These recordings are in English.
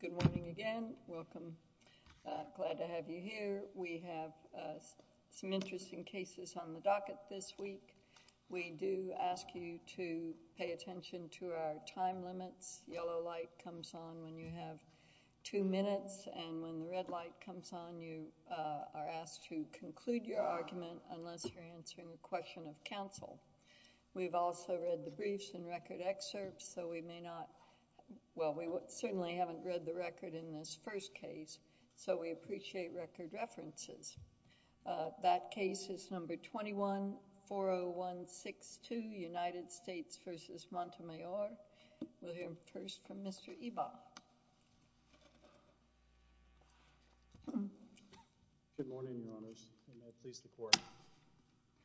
Good morning again. Welcome. Glad to have you here. We have some interesting cases on today's hearing. We're going to pay attention to our time limits. Yellow light comes on when you have two minutes, and when the red light comes on, you are asked to conclude your argument unless you're answering a question of counsel. We've also read the briefs and record excerpts, so we may not—well, we certainly haven't read the record in this case. We'll hear first from Mr. Ebaugh. Good morning, Your Honors. And may it please the Court.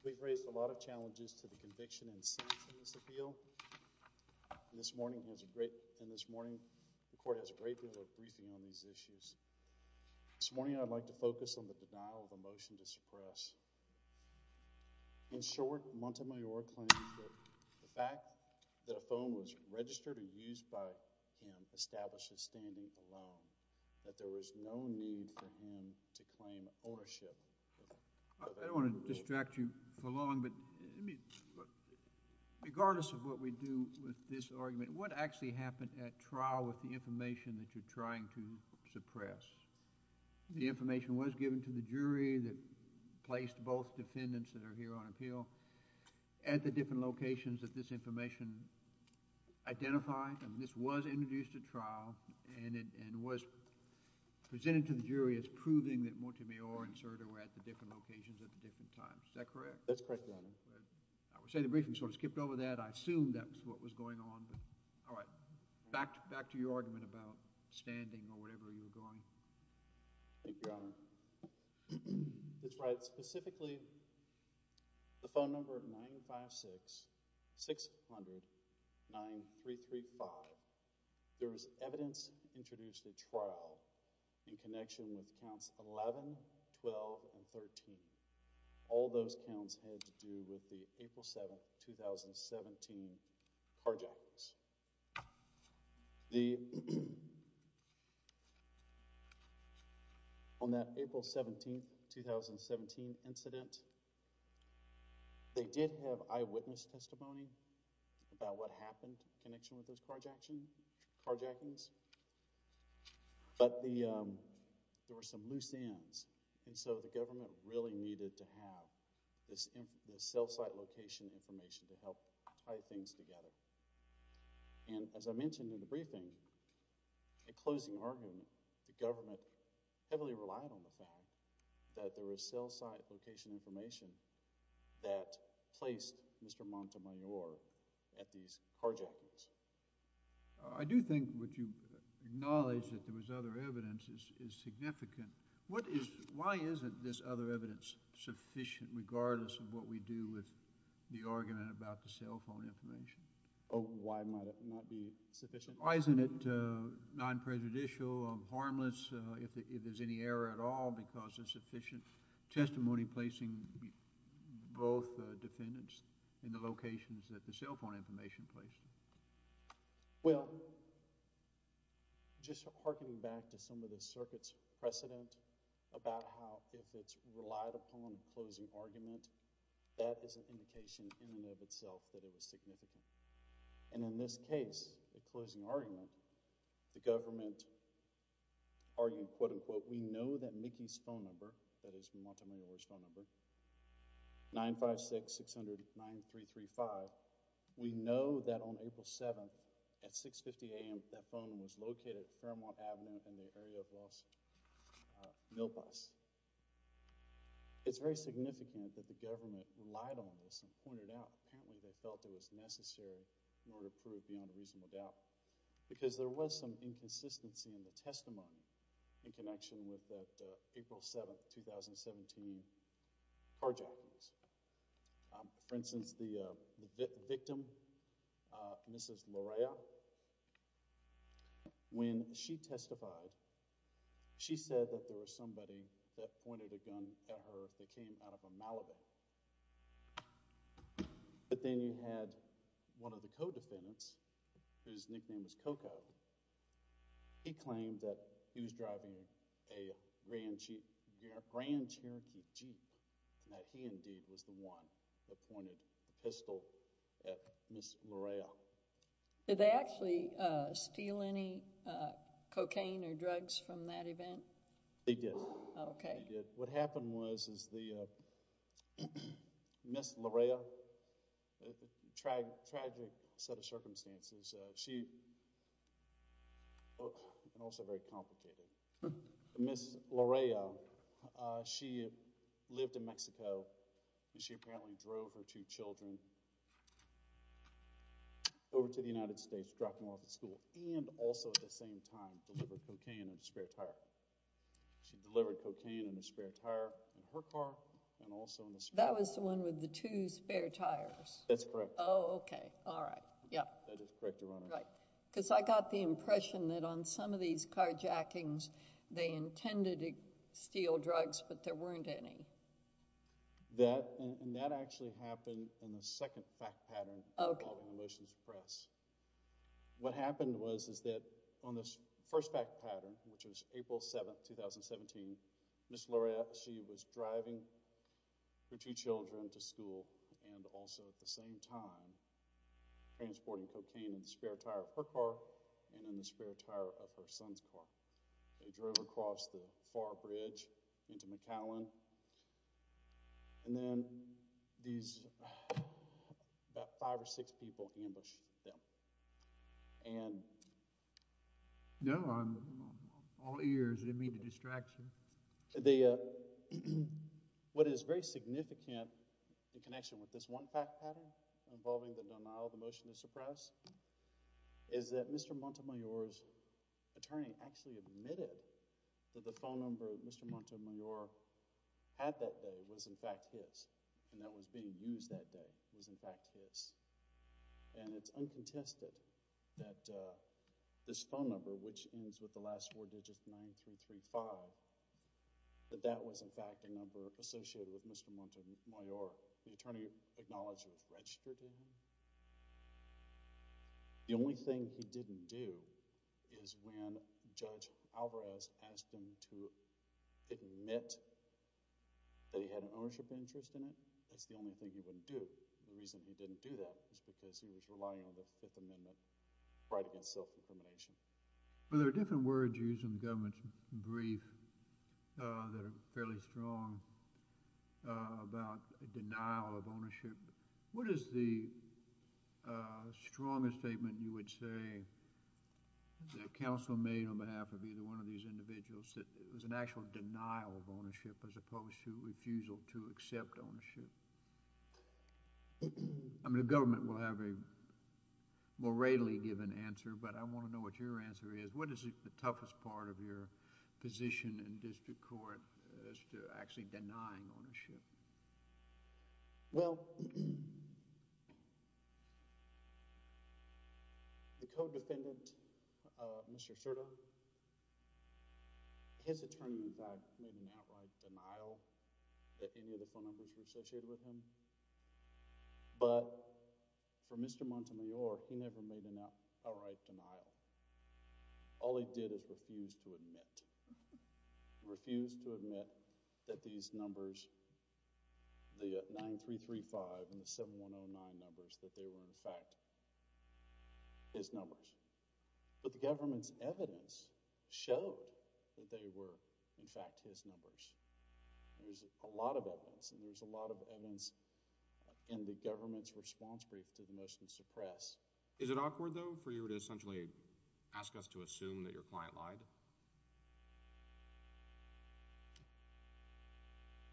We've raised a lot of challenges to the conviction and sanctions appeal, and this morning the Court has a great deal of briefing on these issues. This morning I'd like to focus on the denial of a motion to suppress. In short, Montemayor claims that the fact that a phone was registered and used by him established his standing alone, that there was no need for him to claim ownership of that phone. I don't want to distract you for long, but regardless of what we do with this argument, what actually happened at trial with the information that you're trying to suppress, the information was given to the jury that placed both defendants that are here on appeal at the different locations that this information identified, and this was introduced at trial, and was presented to the jury as proving that Montemayor and Serda were at the different locations at the different times. Is that correct? That's correct, Your Honor. I would say the briefing sort of skipped over that. I assumed that was what was going on. All right. Back to your argument about standing or whatever you were drawing. Thank you, Your Honor. It's right. Specifically, the phone number 956-600-9335, there was evidence introduced at trial in connection with counts 11, 12, and 13. All those counts had to do with the On that April 17, 2017 incident, they did have eyewitness testimony about what happened in connection with those carjackings, but there were some loose ends, and so the government really needed to have this cell site location information to help tie things together. And as I mentioned in the briefing, a closing argument, the government heavily relied on the fact that there was cell site location information that placed Mr. Montemayor at these carjackings. I do think what you acknowledge, that there was other evidence, is significant. Why isn't this other evidence sufficient, regardless of what we do with the argument about the cell phone information? Oh, why might it not be sufficient? Why isn't it non-presidential, harmless, if there's any error at all, because there's sufficient testimony placing both defendants in the locations that the cell phone information places? Well, just harking back to some of the circuit's precedent about how if it's a prison cell, that's it. It's a cell that it is significant. And in this case, the closing argument, the government argued, quote-unquote, we know that Nikki's phone number, that is Montemayor's phone number, 956-600-9335, we know that on April 7th, at 6.50 AM, that phone number was located on Caramon Avenue in the area of Los Niopas. It's very significant that the government relied on this and pointed out, apparently, they felt it was necessary in order to prove beyond a reasonable doubt. Because there was some inconsistency in the testimony in connection with that April 7th, 2017 carjacking. For instance, the victim, Mrs. Lorea, when she testified, she said that there was somebody that pointed a gun at her if they came out of a Malibu. But then you had one of the co-defendants, whose nickname was Coco, he claimed that he was driving a Grand Cherokee Jeep, and that he indeed was the one that pointed a pistol at Mrs. Lorea. Did they actually steal any cocaine or drugs from that event? They did. Okay. They did. What happened was, is the, Mrs. Lorea, tragic set of circumstances, she, and also very complicated, Mrs. Lorea, she lived in Mexico, and she apparently drove her two children over to the United States, dropped them off at school, and also at the same time, delivered cocaine in a spare tire. She delivered cocaine in a spare tire in her car, and also in a spare tire. That was the one with the two spare tires. That's correct. Oh, okay. All right. Yep. That is correct, Your Honor. Right. Because I got the impression that on some of these carjackings, they intended to steal drugs, but there weren't any. That, and that actually happened in the second fact pattern. Okay. What happened was, is that on this first fact pattern, which was April 7th, 2017, Mrs. Lorea, she was driving her two children to school, and also at the same time, transporting cocaine in the spare tire of her car, and in the spare tire of her son's car. They drove across the and... No, on all ears. It didn't mean to distract you. The... What is very significant in connection with this one fact pattern involving the denial of emotional surprise is that Mr. Montemayor's attorney actually admitted that the phone number that Mr. Montemayor had that day was in fact his, and that was being used that day was in fact his. And it's uncontested that this phone number, which ends with the last four digits, 9-3-3-5, that that was in fact a number associated with Mr. Montemayor. The attorney acknowledged it was registered with him. The only thing he didn't do is when Judge Alvarez asked him to admit that he had an ownership interest in it. That's the only thing he didn't do. The reason he didn't do that is because he was relying on the Fifth Amendment right against self-determination. Well, there are different words used in government briefs that are fairly strong about denial of ownership. What is the strongest statement you would say that counsel made on behalf of either one of these individuals that there was an actual denial of ownership as opposed to refusal to accept ownership? I mean, the government will have a more readily given answer, but I want to know what your answer is. What is the toughest part of your position in district court as to actually denying ownership? Well, the co-defendant, Mr. Cerda, his attorney in fact made an outright denial that any of the phone numbers were associated with him, but for Mr. Montemayor, he never made an outright denial. All he did is refuse to admit, refuse to admit that these numbers, the 9335 and the 7109 numbers, that they were in fact his numbers. But the government's evidence showed that they were in fact his numbers. There's a lot of evidence and there's a lot of evidence in the government's response brief to the motion to suppress. Is it awkward though for you to essentially ask us to assume that your client lied?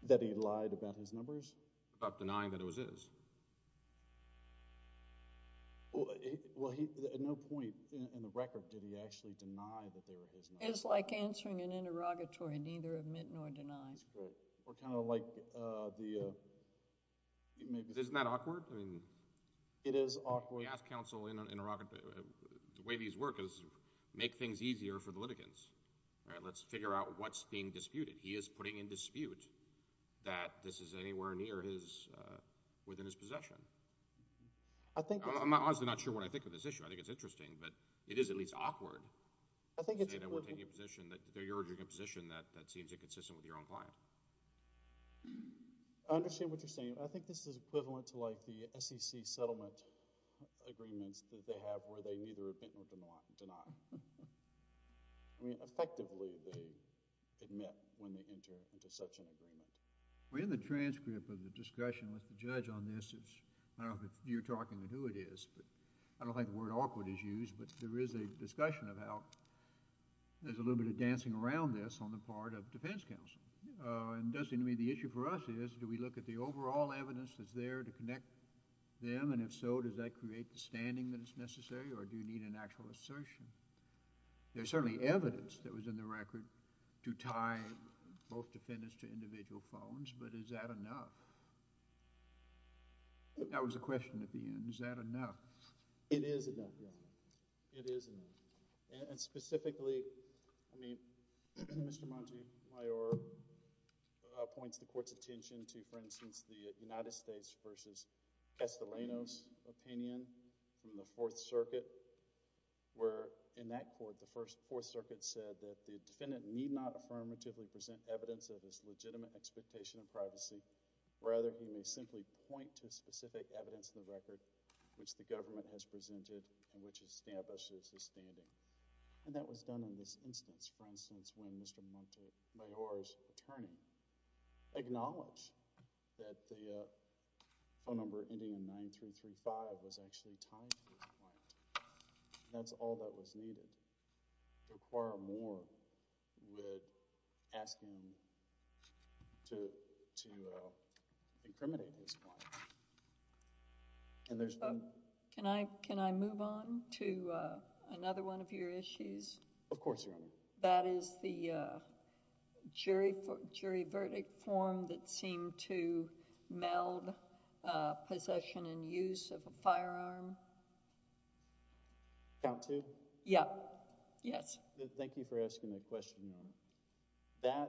That he lied about his numbers? About denying that it was his? Well, at no point in the record did he actually deny that they were his numbers. It's like answering an interrogatory neither admit nor deny. Or kind of like the... Isn't that awkward? It is awkward. We ask counsel in an interrogatory... the way these work is make things easier for the litigants. All right, let's figure out what's being disputed. He is putting in dispute that this is anywhere near his... within his possession. I'm honestly not sure what I think of this issue. I think it's interesting, but it is at least awkward to say that we're taking a position that you're arguing a position that seems inconsistent with your own client. I understand what you're saying. I think this is equivalent to like the SEC settlement agreements that they have where they neither admit nor deny. I mean, effectively they admit when they enter into such an agreement. Well, in the transcript of the discussion with the judge on this, it's... I don't know if you're talking to who it is, but I don't think the word awkward is used, but there is a discussion about... there's a little bit of dancing around this on the part of defense counsel. And doesn't it mean the issue for us is do we look at the overall evidence that's there to connect them, and if so, does that create the standing that is necessary or do you need an actual assertion? There's certainly evidence that was in the record to tie both defendants to individual phones, but is that enough? That was a question at the end. Is that enough? It is enough, yeah. It is enough. And specifically, I mean, Mr. Montemayor points the court's attention to, for instance, the United States v. Estolano's opinion in the Fourth Circuit, where in that court, the Fourth Circuit said that the defendant need not affirmatively present evidence of his legitimate expectation of privacy, rather he may simply point to specific evidence against the record which the government has presented and which establishes his standing. And that was done in this instance. For instance, when Mr. Montemayor's attorney acknowledged that the phone number Indian 9335 was actually tied to his client, that's all that was needed. Require more would ask him to incriminate his client. Can I move on to another one of your issues? Of course, Your Honor. That is the jury verdict form that seemed to meld possession and use of a firearm. Count two? Yeah. Yes. Thank you for asking that question, Your Honor.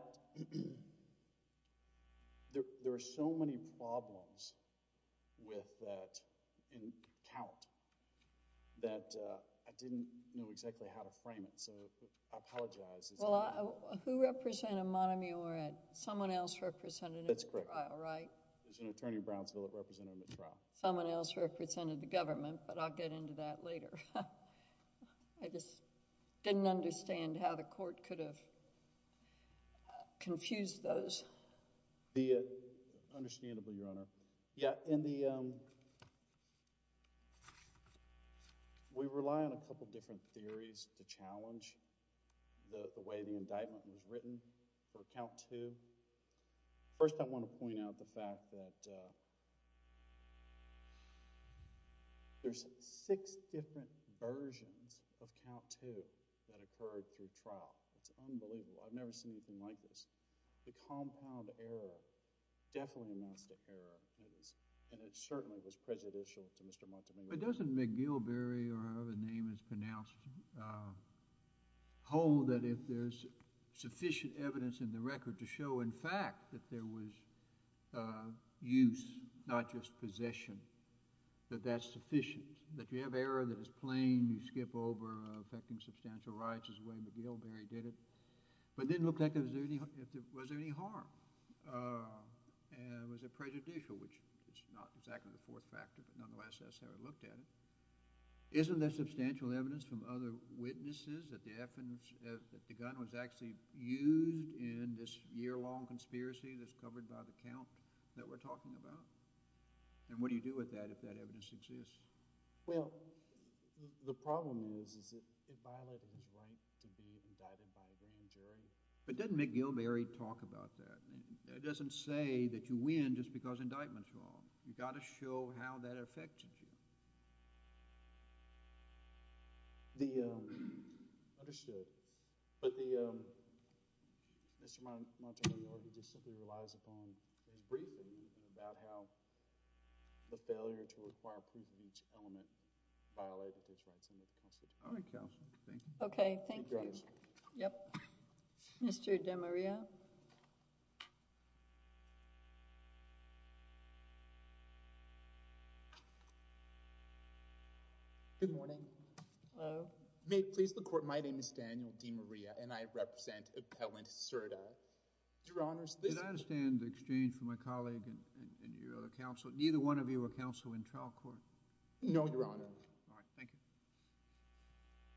There are so many problems with that in count that I didn't know exactly how to frame it, so I apologize. Well, who represented Montemayor? Someone else represented him in the trial, right? That's correct. It was an attorney Brownsville that represented him in the trial. I just didn't understand how the court could have confused those. Understandably, Your Honor. Yeah. We rely on a couple of different theories to challenge the way the indictment was written for count two. First, I want to point out the fact that there's six different versions of count two that occurred through trial. It's unbelievable. I've never seen anything like this. The compound error definitely amounts to error, and it certainly was prejudicial to Mr. Montemayor. It doesn't make Gilberry, or however the name is pronounced, hold that if there's sufficient evidence in the record to show, in fact, that there was use, not just possession, that that's sufficient. That you have error that is plain, you skip over affecting substantial rights is the way McGilberry did it. But it didn't look like there was any harm. It was prejudicial, which is not exactly the fourth factor, but nonetheless that's how he looked at it. Isn't there substantial evidence from other witnesses that the gun was actually used in this year-long conspiracy that's covered by the count that we're talking about? And what do you do with that if that evidence exists? Well, the problem is it violated his right to be indicted by a jury. But doesn't McGilberry talk about that? It doesn't say that you win just because indictment's wrong. You've got to show how that affected you. Understood. But Mr. Montemayor, he just simply relies upon a briefing about how the failure to require proof of each element violated his rights. All right, counsel, thank you. Okay, thank you. Yep. Mr. DeMaria? Good morning. Hello. May it please the Court, my name is Daniel DeMaria, and I represent Appellant Serda. Your Honors, this— Did I understand the exchange from my colleague and your other counsel? Neither one of you were counsel in trial court? No, Your Honor. All right, thank you.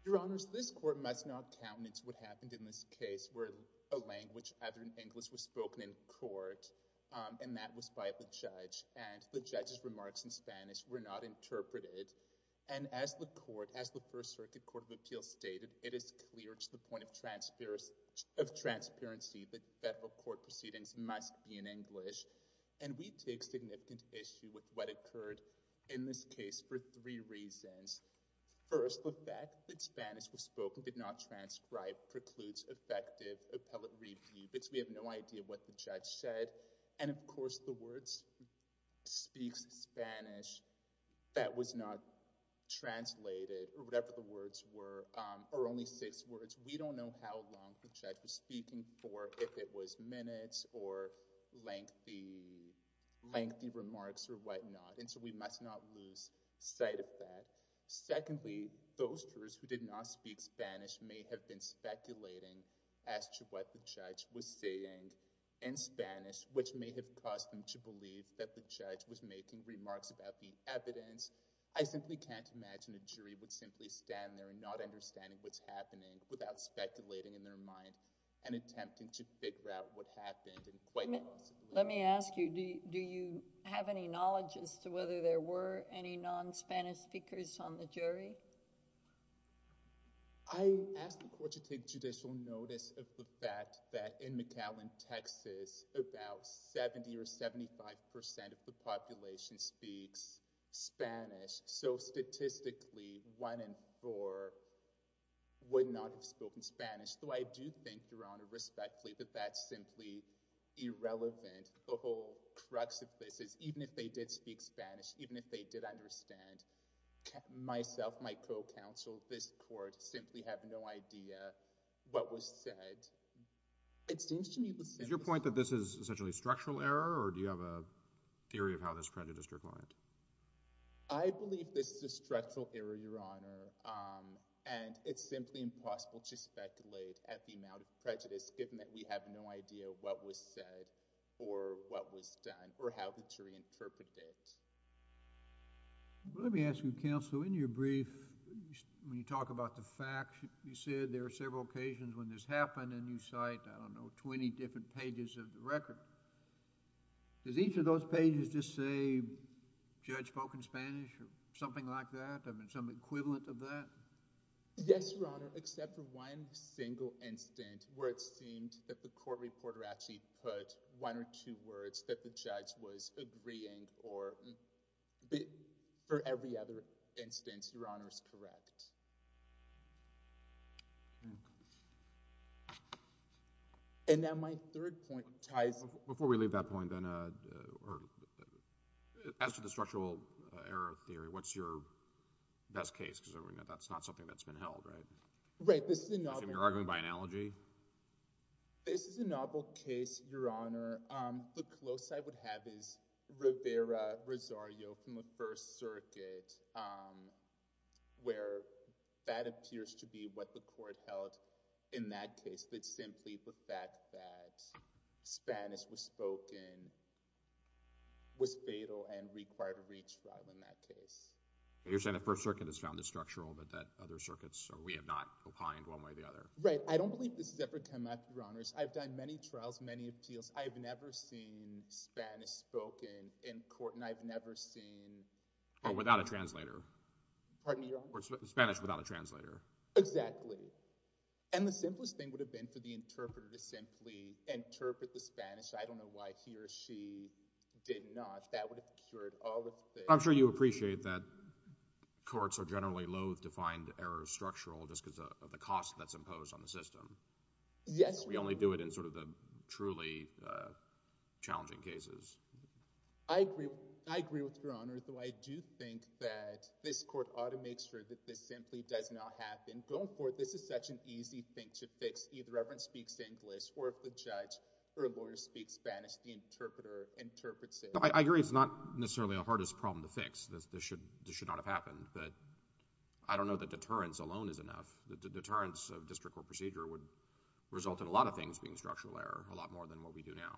Your Honors, this Court must not countenance what happened in this case where a language other than English was spoken in court, and that was by the judge. And the judge's remarks in Spanish were not interpreted. And as the First Circuit Court of Appeals stated, it is clear to the point of transparency that federal court proceedings must be in English. And we take significant issue with what occurred in this case for three reasons. First, the fact that Spanish was spoken but not transcribed precludes effective appellate review, because we have no idea what the judge said. And of course, the words, speaks Spanish, that was not translated or whatever the words were, or only six words. We don't know how long the judge was speaking for, if it was minutes or lengthy, lengthy remarks or whatnot. And so we must not lose sight of that. Secondly, those jurors who did not speak Spanish may have been speculating as to what the judge was saying in Spanish, which may have caused them to believe that the judge was making remarks about the evidence. I simply can't imagine a jury would simply stand there not understanding what's happening without speculating in their mind and attempting to figure out what happened. Let me ask you, do you have any knowledge as to whether there were any non-Spanish speakers on the jury? I ask the court to take judicial notice of the fact that in McAllen, Texas, about 70 or 75% of the population speaks Spanish. So statistically, one in four would not have spoken Spanish. Though I do think, Your Honor, respectfully, that that's simply irrelevant. The whole crux of this is, even if they did speak Spanish, even if they did understand, myself, my co-counsel, this court, simply have no idea what was said. It seems to me the simplest— Is your point that this is essentially structural error, or do you have a theory of how this prejudice declined? I believe this is a structural error, Your Honor, and it's simply impossible to speculate at the amount of prejudice, given that we have no idea what was said, or what was done, or how the jury interpreted it. Let me ask you, counsel, in your brief, when you talk about the facts, you said there were several occasions when this happened, and you cite, I don't know, 20 different pages of the record. Does each of those pages just say, the judge spoke in Spanish, or something like that? I mean, some equivalent of that? Yes, Your Honor, except for one single instance where it seemed that the court reporter actually put one or two words that the judge was agreeing, or for every other instance, Your Honor is correct. And now my third point ties— Before we leave that point, then, as to the structural error theory, what's your best case? Because that's not something that's been held, right? Right, this is a novel— So you're arguing by analogy? This is a novel case, Your Honor. The close I would have is Rivera-Rosario from the First Circuit, where that appears to be what the court held in that case, that simply the fact that Spanish was spoken was fatal and required a retrial in that case. You're saying the First Circuit has found this structural, but that other circuits, we have not opined one way or the other? Right, I don't believe this has ever come up, Your Honors. I've done many trials, many appeals. I've never seen Spanish spoken in court, and I've never seen— Or without a translator. Pardon me, Your Honor? Spanish without a translator. Exactly. And the simplest thing would have been for the interpreter to simply interpret the Spanish. I don't know why he or she did not. That would have cured all of the— I'm sure you appreciate that courts are generally loath to find errors structural just because of the cost that's imposed on the system. Yes. We only do it in sort of the truly challenging cases. I agree with Your Honor, though I do think that this court ought to make sure that this simply does not happen. Going forward, this is such an easy thing to fix. Either the reverend speaks English, or if the judge or lawyer speaks Spanish, the interpreter interprets it. I agree it's not necessarily the hardest problem to fix. This should not have happened. But I don't know that deterrence alone is enough. The deterrence of district court procedure would result in a lot of things being structural error, a lot more than what we do now.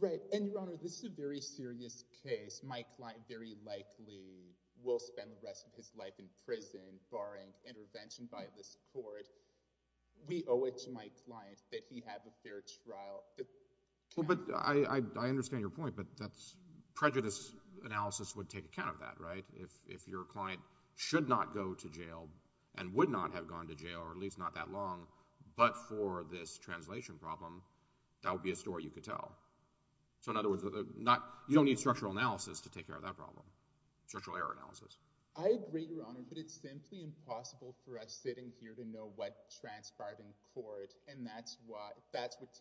Right. And, Your Honor, this is a very serious case. My client very likely will spend the rest of his life in prison barring intervention by this court. We owe it to my client that he have a fair trial. But I understand your point, but that's—prejudice analysis would take account of that, right? If your client should not go to jail and would not have gone to jail, or at least not that long, but for this translation problem, that would be a story you could tell. So in other words, you don't need structural analysis to take care of that problem, structural error analysis. I agree, Your Honor, but it's simply impossible for us sitting here to know what transpired in court, and that's what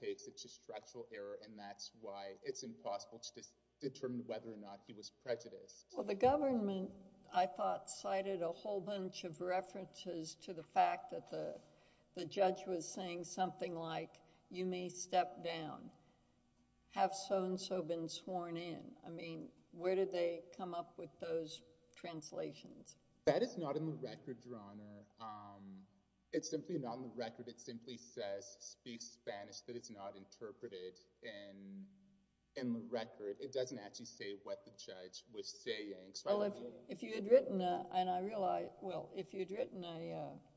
takes it to structural error, and that's why it's impossible to determine whether or not it was prejudiced. Well, the government, I thought, cited a whole bunch of references to the fact that the judge was saying something like, you may step down, have so-and-so been sworn in. I mean, where did they come up with those translations? That is not in the record, Your Honor. It's simply not in the record. It simply says, speaks Spanish, but it's not interpreted in the record. It doesn't actually say what the judge was saying. Well, if you had written a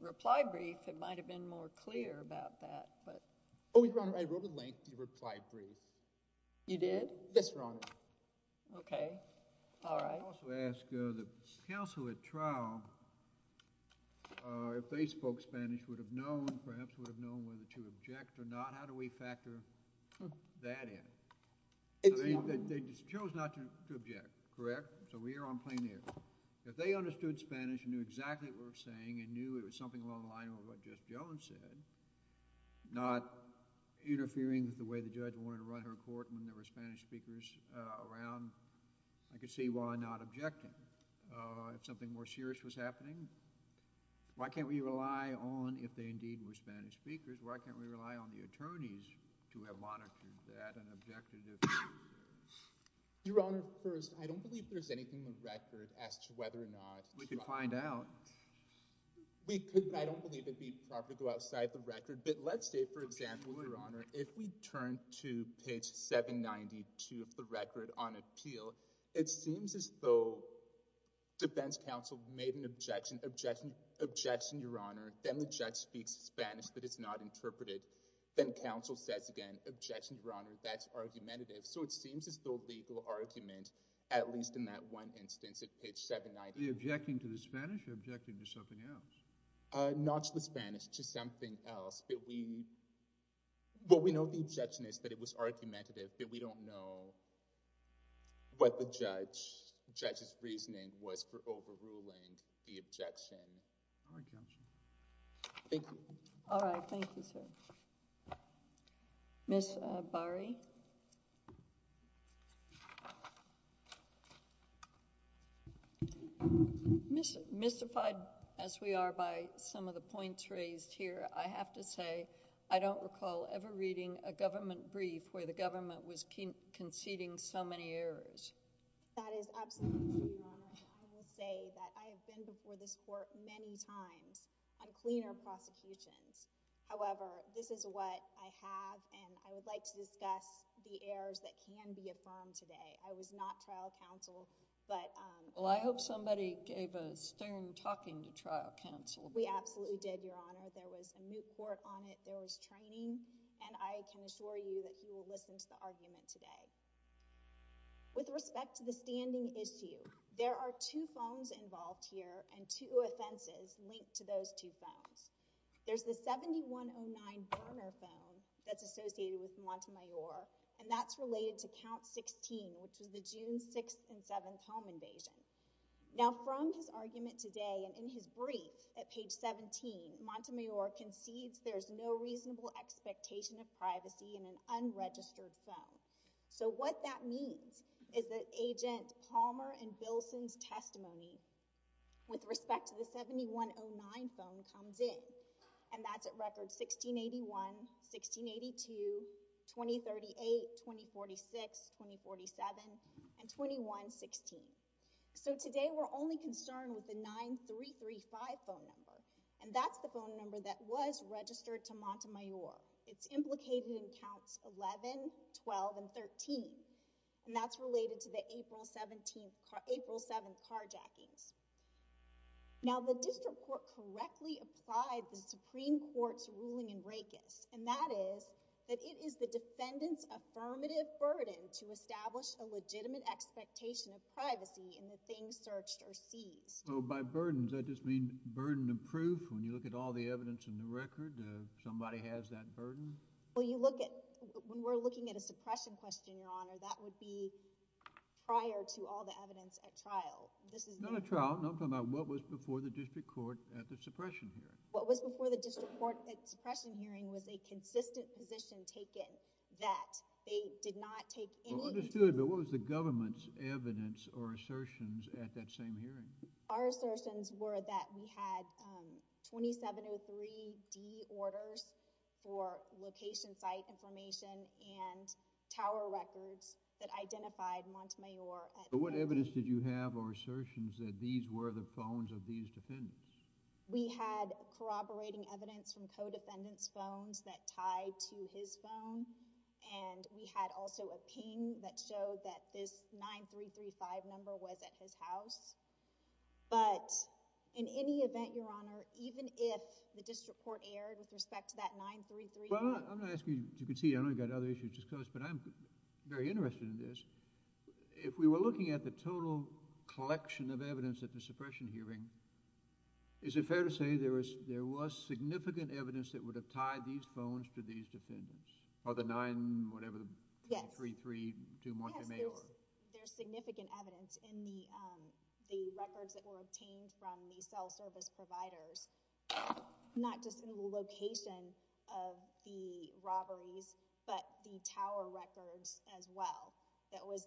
reply brief, it might have been more clear about that. Oh, Your Honor, I wrote a lengthy reply brief. You did? Yes, Your Honor. Okay. All right. I also ask the counsel at trial, if they spoke Spanish, would have known, perhaps would have known whether to object or not. How do we factor that in? They chose not to object, correct? So we are on plain air. If they understood Spanish and knew exactly what we were saying and knew it was something along the lines of what Judge Jones said, not interfering with the way the judge wanted to run her court when there were Spanish speakers around, I could see why not objecting. If something more serious was happening, why can't we rely on, if they indeed were Spanish speakers, why can't we rely on the attorneys to have monitored that and objected to it? Your Honor, first, I don't believe there's anything in the record as to whether or not— We could find out. I don't believe it would properly go outside the record. But let's say, for example, Your Honor, if we turn to page 792 of the record on appeal, it seems as though defense counsel made an objection. Objection, Your Honor. Then the judge speaks Spanish that is not interpreted. Then counsel says again, Objection, Your Honor. That's argumentative. So it seems as though legal argument, at least in that one instance at page 792— Are you objecting to the Spanish or are you objecting to something else? Not to the Spanish, to something else. What we know of the objection is that it was argumentative, but we don't know what the judge's reasoning was for overruling the objection. All right, counsel. Thank you. All right. Thank you, sir. Ms. Bari? Ms. Bari? Mystified as we are by some of the points raised here, I have to say I don't recall ever reading a government brief where the government was conceding so many errors. That is absolutely true, Your Honor. I will say that I have been before this court many times on cleaner prosecutions. However, this is what I have, and I would like to discuss the errors that can be affirmed today. I was not trial counsel, but— Well, I hope somebody gave a stern talking to trial counsel. We absolutely did, Your Honor. There was a moot court on it. There was training, and I can assure you that you will listen to the argument today. With respect to the standing issue, there are two phones involved here and two offenses linked to those two phones. There is the 7109 Berner phone that is associated with Montemayor, and that is related to count 16, which is the June 6th and 7th home invasion. Now, from his argument today and in his brief at page 17, Montemayor concedes there is no reasonable expectation of privacy in an unregistered phone. So what that means is that Agent Palmer and Bilson's testimony with respect to the 7109 phone comes in, and that's at records 1681, 1682, 2038, 2046, 2047, and 2116. So today we're only concerned with the 9335 phone number, and that's the phone number that was registered to Montemayor. It's implicated in counts 11, 12, and 13, and that's related to the April 7th carjackings. Now, the district court correctly applied the Supreme Court's ruling in Raikes, and that is that it is the defendant's affirmative burden to establish a legitimate expectation of privacy in the things searched or seized. By burdens, I just mean burden of proof. When you look at all the evidence in the record, somebody has that burden? Well, you look at—when we're looking at a suppression question, Your Honor, that would be prior to all the evidence at trial. This is not a trial. I'm talking about what was before the district court at the suppression hearing. What was before the district court at the suppression hearing was a consistent position taken that they did not take any— Well, understood, but what was the government's evidence or assertions at that same hearing? Our assertions were that we had 2703D orders for location, site information, and tower records that identified Montemayor. But what evidence did you have or assertions that these were the phones of these defendants? We had corroborating evidence from co-defendants' phones that tied to his phone, and we had also a ping that showed that this 9335 number was at his house. But in any event, Your Honor, even if the district court erred with respect to that 9335— Well, I'm not asking you to concede. I know you've got other issues to discuss, but I'm very interested in this. If we were looking at the total collection of evidence at the suppression hearing, is it fair to say there was significant evidence that would have tied these phones to these defendants? Oh, the 9-whatever-the-332 Montemayor? Yes, there's significant evidence in the records that were obtained from the cell service providers, not just in the location of the robberies, but the tower records as well. There was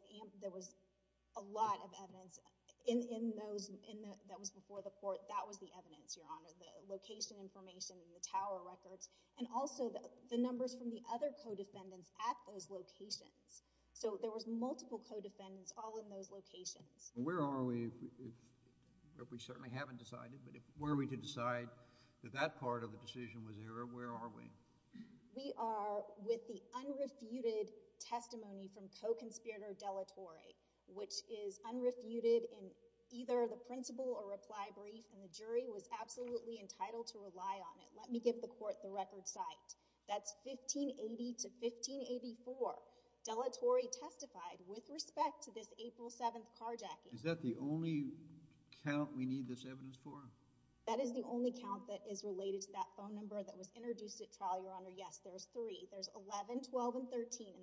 a lot of evidence that was before the court. That was the evidence, Your Honor, the location information and the tower records, and also the numbers from the other co-defendants at those locations. So there was multiple co-defendants all in those locations. Where are we, if we certainly haven't decided, but if were we to decide that that part of the decision was error, where are we? We are with the unrefuted testimony from co-conspirator Dellatore, which is unrefuted in either the principle or reply brief, and the jury was absolutely entitled to rely on it. Let me give the court the record site. That's 1580 to 1584. Dellatore testified with respect to this April 7th carjacking. Is that the only count we need this evidence for? That is the only count that is related to that phone number that was introduced at trial, Your Honor. Yes, there's three. There's 11, 12, and 13, and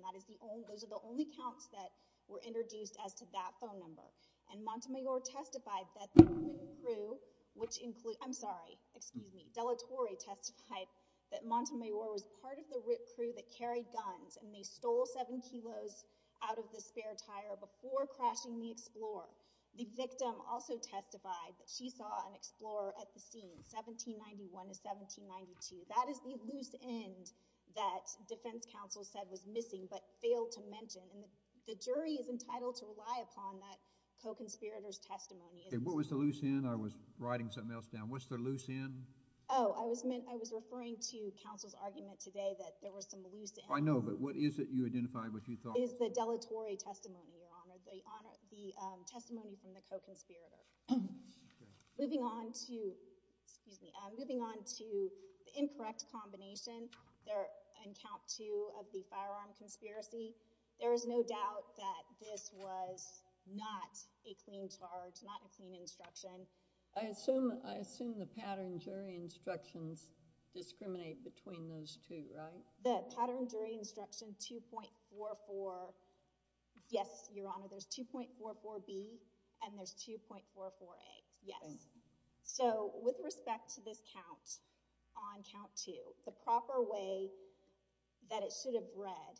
those are the only counts that were introduced as to that phone number. And Montemayor testified that the RIT crew, which includes – I'm sorry, excuse me. Dellatore testified that Montemayor was part of the RIT crew that carried guns and they stole seven kilos out of the spare tire before crashing the Explorer. The victim also testified that she saw an Explorer at the scene, 1791 to 1792. That is the loose end that defense counsel said was missing but failed to mention, and the jury is entitled to rely upon that co-conspirator's testimony. What was the loose end? I was writing something else down. What's the loose end? Oh, I was referring to counsel's argument today that there was some loose end. I know, but what is it? You identified what you thought. It is the Dellatore testimony, Your Honor, the testimony from the co-conspirator. Moving on to – excuse me. In count two of the firearm conspiracy, there is no doubt that this was not a clean charge, not a clean instruction. I assume the pattern jury instructions discriminate between those two, right? The pattern jury instruction 2.44, yes, Your Honor. There's 2.44B and there's 2.44A, yes. So with respect to this count on count two, the proper way that it should have read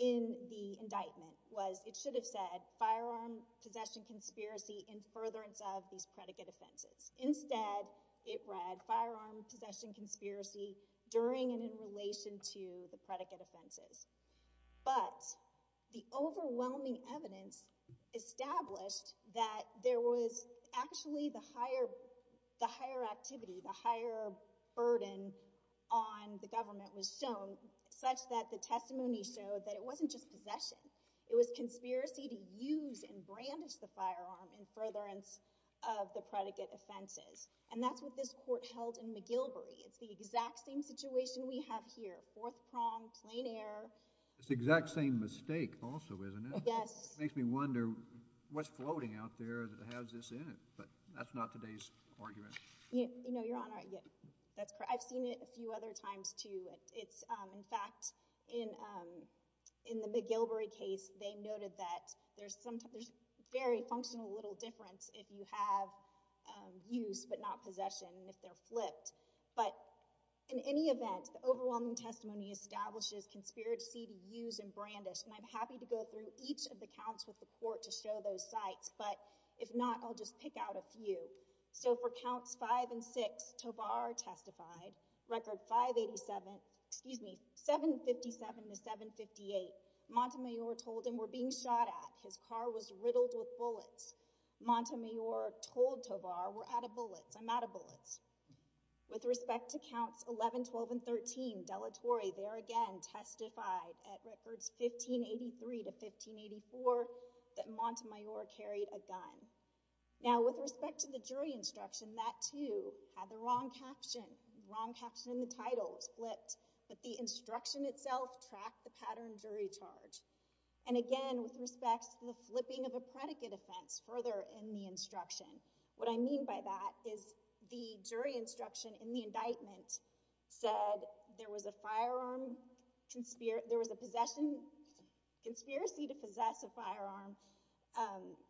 in the indictment was it should have said firearm possession conspiracy in furtherance of these predicate offenses. Instead, it read firearm possession conspiracy during and in relation to the predicate offenses. But the overwhelming evidence established that there was actually the higher activity, the higher burden on the government was shown such that the testimony showed that it wasn't just possession. It was conspiracy to use and brandish the firearm in furtherance of the predicate offenses. And that's what this court held in McGilvory. It's the exact same situation we have here, fourth prong, plain error. It's the exact same mistake also, isn't it? Yes. It makes me wonder what's floating out there that has this in it, but that's not today's argument. You know, Your Honor, I've seen it a few other times too. In fact, in the McGilvory case, they noted that there's very functional little difference if you have use but not possession, if they're flipped. But in any event, the overwhelming testimony establishes conspiracy to use and brandish. And I'm happy to go through each of the counts with the court to show those sites. But if not, I'll just pick out a few. So for counts five and six, Tovar testified. Record 587, excuse me, 757 to 758. Montemayor told him, we're being shot at. His car was riddled with bullets. Montemayor told Tovar, we're out of bullets. I'm out of bullets. With respect to counts 11, 12, and 13, Dellatore there again testified at records 1583 to 1584 that Montemayor carried a gun. Now, with respect to the jury instruction, that too had the wrong caption. The wrong caption in the title was flipped, but the instruction itself tracked the pattern jury charge. And again, with respect to the flipping of a predicate offense further in the instruction, what I mean by that is the jury instruction in the indictment said there was a firearm, there was a possession, conspiracy to possess a firearm,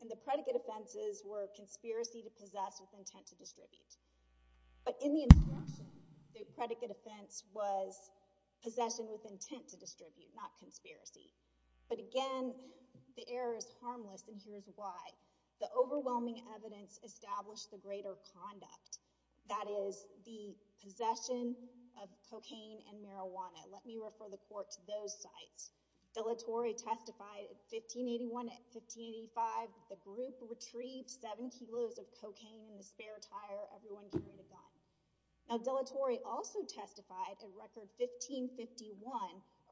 and the predicate offenses were conspiracy to possess with intent to distribute. But in the instruction, the predicate offense was possession with intent to distribute, not conspiracy. But again, the error is harmless, and here's why. The overwhelming evidence established the greater conduct. That is, the possession of cocaine and marijuana. Let me refer the court to those sites. Dellatore testified at 1581 and 1585. The group retrieved seven kilos of cocaine in the spare tire. Everyone carried a gun. Now, Dellatore also testified at record 1551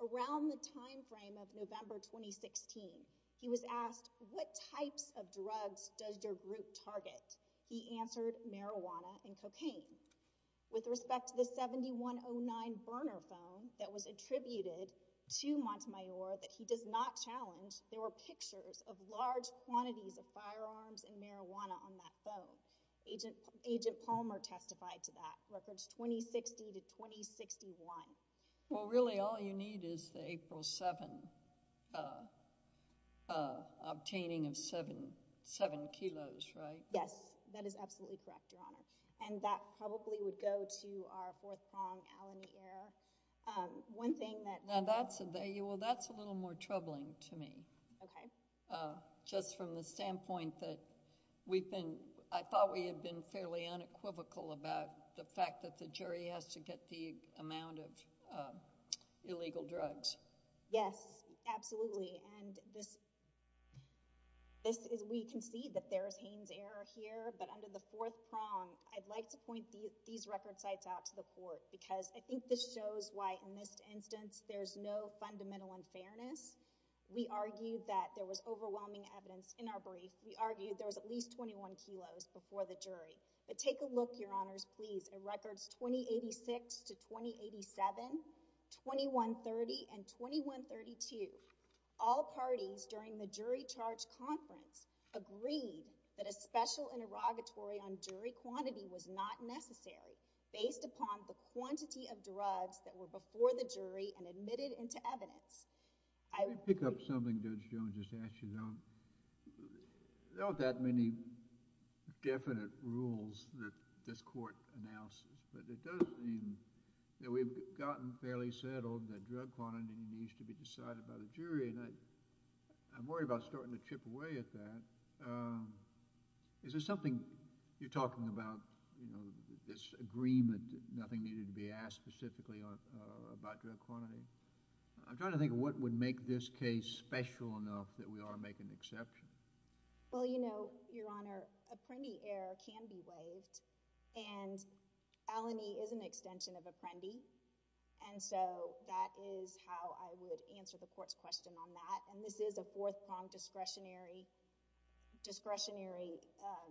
around the timeframe of November 2016. He was asked, what types of drugs does your group target? He answered marijuana and cocaine. With respect to the 7109 burner phone that was attributed to Montemayor that he does not challenge, there were pictures of large quantities of firearms and marijuana on that phone. Agent Palmer testified to that, records 2060 to 2061. Well, really all you need is the April 7 obtaining of seven kilos, right? Yes. That is absolutely correct, Your Honor. And that probably would go to our fourth prong, alimony error. One thing that... Well, that's a little more troubling to me. Okay. Just from the standpoint that we've been... illegal drugs. Yes, absolutely. And this is... we concede that there is Haynes error here. But under the fourth prong, I'd like to point these record sites out to the court because I think this shows why in this instance there's no fundamental unfairness. We argued that there was overwhelming evidence in our brief. We argued there was at least 21 kilos before the jury. But take a look, Your Honors, please. In records 2086 to 2087, 2130 and 2132, all parties during the jury charge conference agreed that a special interrogatory on jury quantity was not necessary based upon the quantity of drugs that were before the jury and admitted into evidence. I... Can I pick up something Judge Jones just asked you, Your Honor? There aren't that many definite rules that this court announces. But it does mean that we've gotten fairly settled that drug quantity needs to be decided by the jury. And I'm worried about starting to chip away at that. Is there something... you're talking about, you know, this agreement that nothing needed to be asked specifically about drug quantity. I'm trying to think of what would make this case special enough that we ought to make an exception. Well, you know, Your Honor, a Prendi error can be waived. And Al-Ani is an extension of a Prendi. And so that is how I would answer the court's question on that. And this is a fourth-pronged discretionary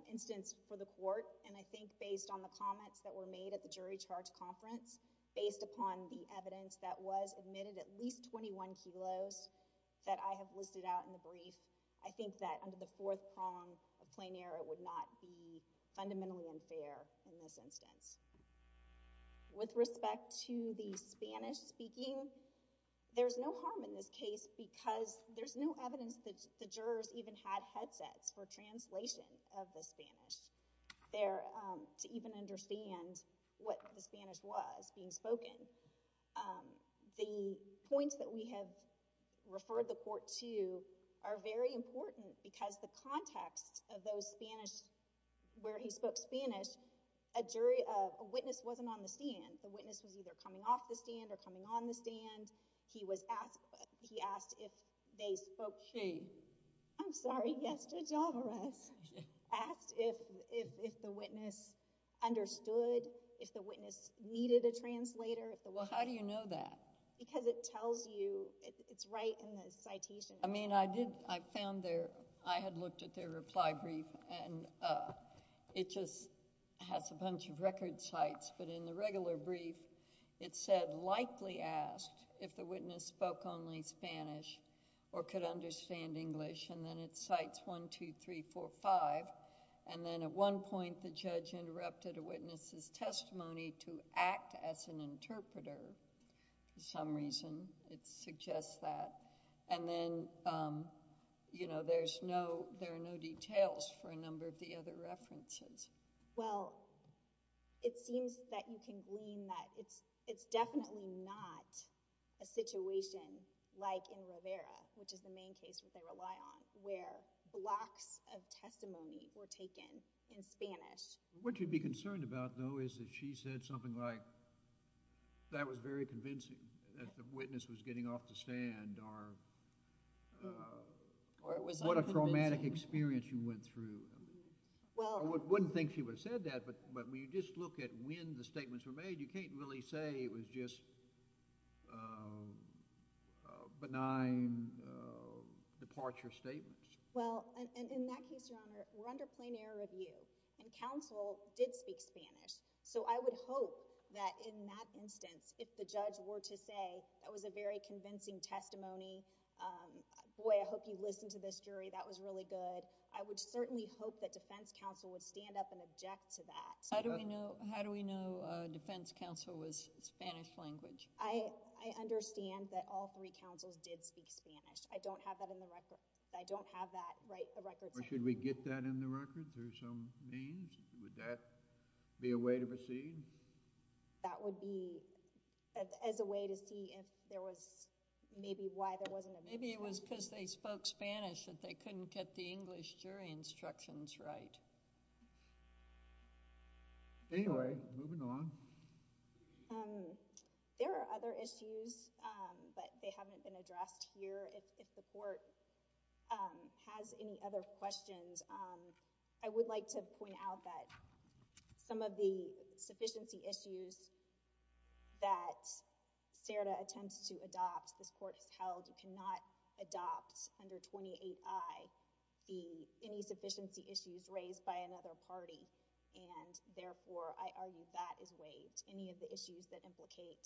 instance for the court. And I think based on the comments that were made at the jury charge conference, based upon the evidence that was admitted at least 21 kilos that I have listed out in the brief, I think that under the fourth prong of plain error would not be fundamentally unfair in this instance. With respect to the Spanish speaking, there's no harm in this case because there's no evidence that the jurors even had headsets for translation of the Spanish. To even understand what the Spanish was being spoken. The points that we have referred the court to are very important because the context of those Spanish, where he spoke Spanish, a witness wasn't on the stand. The witness was either coming off the stand or coming on the stand. He asked if they spoke Spanish. I'm sorry. Yes. Good job of us. Asked if the witness understood, if the witness needed a translator. Well, how do you know that? Because it tells you, it's right in the citation. I mean, I found their... I had looked at their reply brief and it just has a bunch of record sites. But in the regular brief, it said, likely asked if the witness spoke only Spanish or could understand English. And then it cites 1, 2, 3, 4, 5. And then at one point, the judge interrupted a witness's testimony to act as an interpreter for some reason. It suggests that. And then, you know, there are no details for a number of the other references. Well, it seems that you can glean that. It's definitely not a situation like in Rivera, which is the main case which I rely on, where blocks of testimony were taken in Spanish. What you'd be concerned about, though, is that she said something like, that was very convincing, that the witness was getting off the stand, or what a traumatic experience you went through. Well... I wouldn't think she would have said that, but when you just look at when the statements were made, you can't really say it was just benign departure statements. Well, in that case, Your Honor, we're under plain error of you. And counsel did speak Spanish. So I would hope that in that instance, if the judge were to say, that was a very convincing testimony, boy, I hope you listened to this jury, that was really good. I would certainly hope that defense counsel would stand up and object to that. How do we know defense counsel was Spanish-language? I understand that all three counsels did speak Spanish. I don't have that in the record. I don't have that right for records... Or should we get that in the record? There's some names. Would that be a way to proceed? That would be as a way to see if there was maybe why there wasn't a... Maybe it was because they spoke Spanish and they couldn't get the English jury instructions right. Anyway, moving along. There are other issues, but they haven't been addressed here. If the court has any other questions, I would like to point out that some of the sufficiency issues that CERDA attempts to adopt, this court has held, you cannot adopt under 28I any sufficiency issues raised by another party. Therefore, I argue that is waived, any of the issues that implicate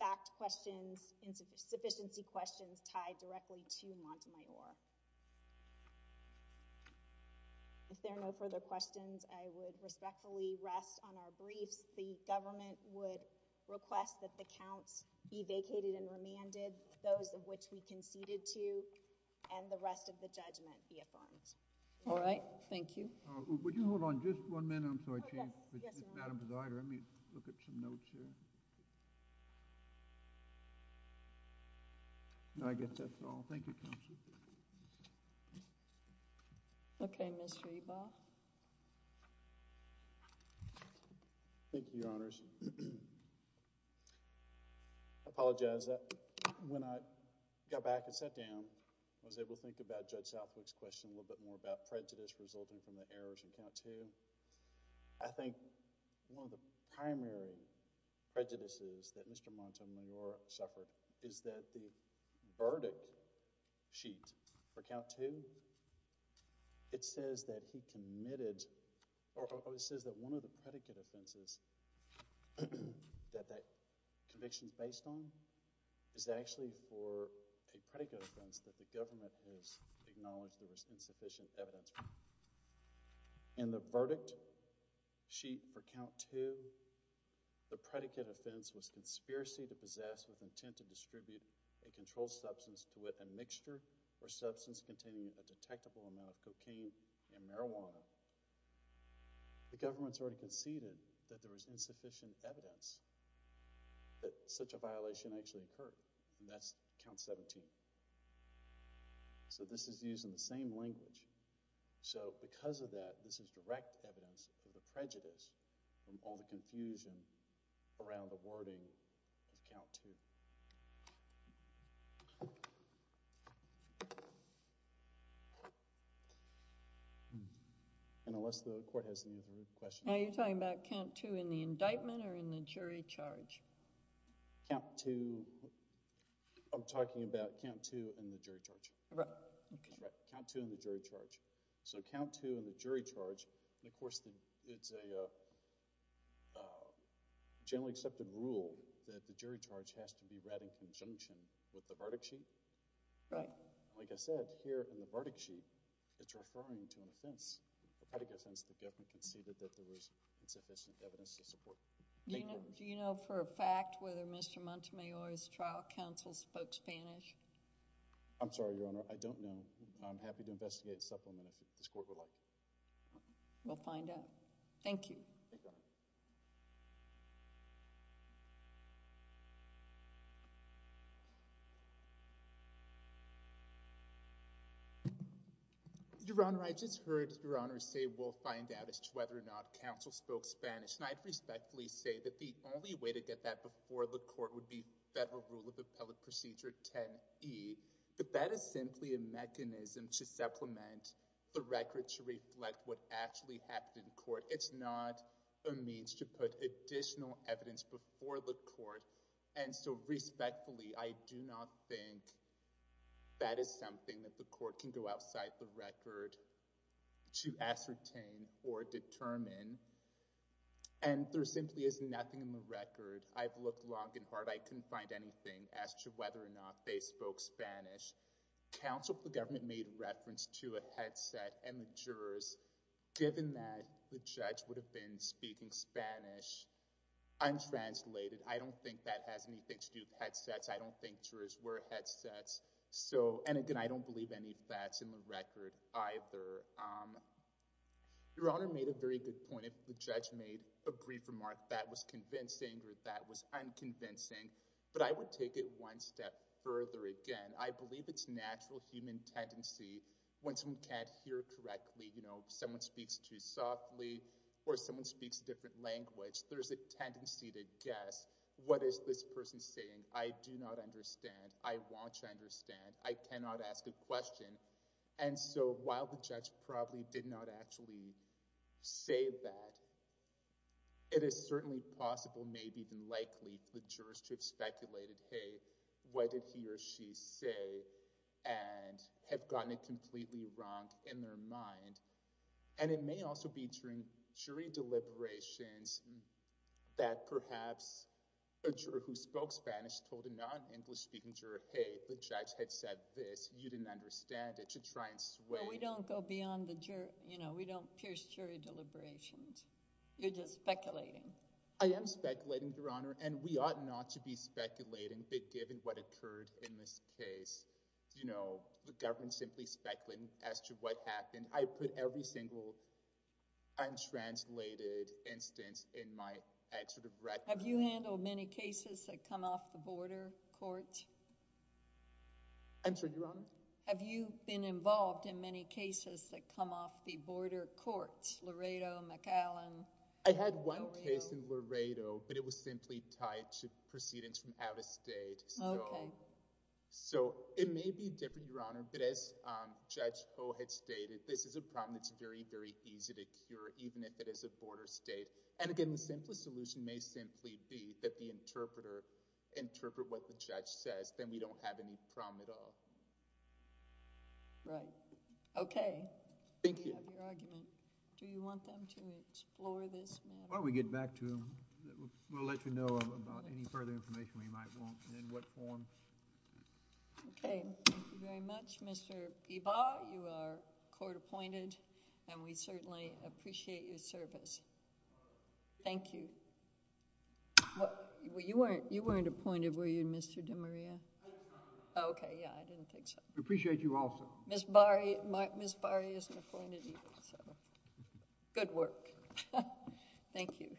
fact questions and sufficiency questions tied directly to Montemayor. If there are no further questions, I would respectfully rest on our briefs. The government would request that the counts be vacated and remanded, those of which we conceded to, and the rest of the judgment be affirmed. All right. Thank you. Would you hold on just one minute? I'm sorry, Chief. Yes, Your Honor. Madam Presider, let me look at some notes here. I guess that's all. Thank you, Counsel. Okay, Mr. Ebaugh. Thank you, Your Honors. I apologize. When I got back and sat down, I was able to think about Judge Southwick's question a little bit more about prejudice resulting from the errors in count two. I think one of the primary prejudices that Mr. Montemayor suffered is that the verdict sheet for count two, it says that he committed, or it says that one of the predicate offenses that that conviction is based on is actually for a predicate offense that the government has acknowledged there was insufficient evidence for. In the verdict sheet for count two, the predicate offense was conspiracy to possess with intent to distribute a controlled substance to with a mixture or substance containing a detectable amount of cocaine and marijuana. The government sort of conceded that there was insufficient evidence that such a violation actually occurred, and that's count 17. So this is used in the same language. So because of that, this is direct evidence for the prejudice and all the confusion around the wording of count two. Unless the court has any more questions. Are you talking about count two in the indictment or in the jury charge? I'm talking about count two in the jury charge. Right. Count two in the jury charge. So count two in the jury charge, and of course it's a generally accepted rule that the jury charge has to be read in conjunction with the verdict sheet. Right. And like I said, here in the verdict sheet that you're referring to an offense, the predicate offense, the government conceded that there was insufficient evidence to support. Thank you. Do you know for a fact whether Mr. Montemayor's trial counsel spoke Spanish? I'm sorry, Your Honor. I don't know. I'm happy to investigate a supplement if this court would like. We'll find out. Thank you. Your Honor, I just heard Your Honor say we'll find out as to whether or not counsel spoke Spanish. And I respectfully say that the only way to get that before the court would be Federal Rule of Appellate Procedure 10E. But that is simply a mechanism to supplement the record to reflect what actually happened in court. It's not a means to put additional evidence before the court. And so respectfully, I do not think that is something that the court can go outside the record to ascertain or determine. And there simply is nothing in the record. I've looked long and hard. I couldn't find anything as to whether or not they spoke Spanish. Counsel for government made reference to a headset, and the jurors, given that the judge would have been speaking Spanish, untranslated. I don't think that has anything to do with headsets. I don't think jurors wear headsets. And again, I don't believe any of that's in the record either. Your Honor made a very good point. The judge made a brief remark that was convincing or that was unconvincing. But I would take it one step further. Again, I believe it's a natural human tendency, when someone can't hear correctly, someone speaks too softly or someone speaks a different language. There's a tendency to guess, what is this person saying? I do not understand. I want to understand. I cannot ask a question. And so while the judge probably did not actually say that, it is certainly possible, maybe even likely, for the jurors to have speculated, hey, what did he or she say and have gotten it completely wronged in their mind. And it may also be during jury deliberations that perhaps a juror who spoke Spanish told a non-English speaking juror, hey, the judge had said this. You didn't understand it. You should try and sway. But we don't go beyond the jury. We don't pierce jury deliberations. You're just speculating. I am speculating, Your Honor. And we ought not to be speculating. But given what occurred in this case, the government simply speculating as to what happened. I put every single untranslated instance in my record. Have you handled many cases that come off the border court? I'm sorry, Your Honor? Have you been involved in many cases that come off the border court, Laredo, McAllen? I had one case in Laredo. But it was simply tied to proceedings from out of state. OK. So it may be different, Your Honor. But as Judge Poe had stated, this is a problem that's very, very easy to cure, even if it is a border state. And again, the simplest solution may simply be that the interpreter interpret what the judge says. Then we don't have any problem at all. Right. OK. Thank you. Do you have your argument? Do you want them to explore this matter? Why don't we get back to them? We'll let you know about any further information we might want and in what form. OK. Thank you very much, Mr. Ibarra. You are court appointed, and we certainly appreciate your service. Thank you. You weren't appointed, were you, Mr. DeMaria? Oh, OK. Yeah, I didn't think so. We appreciate you also. Ms. Bari isn't appointed either, so good work. Thank you.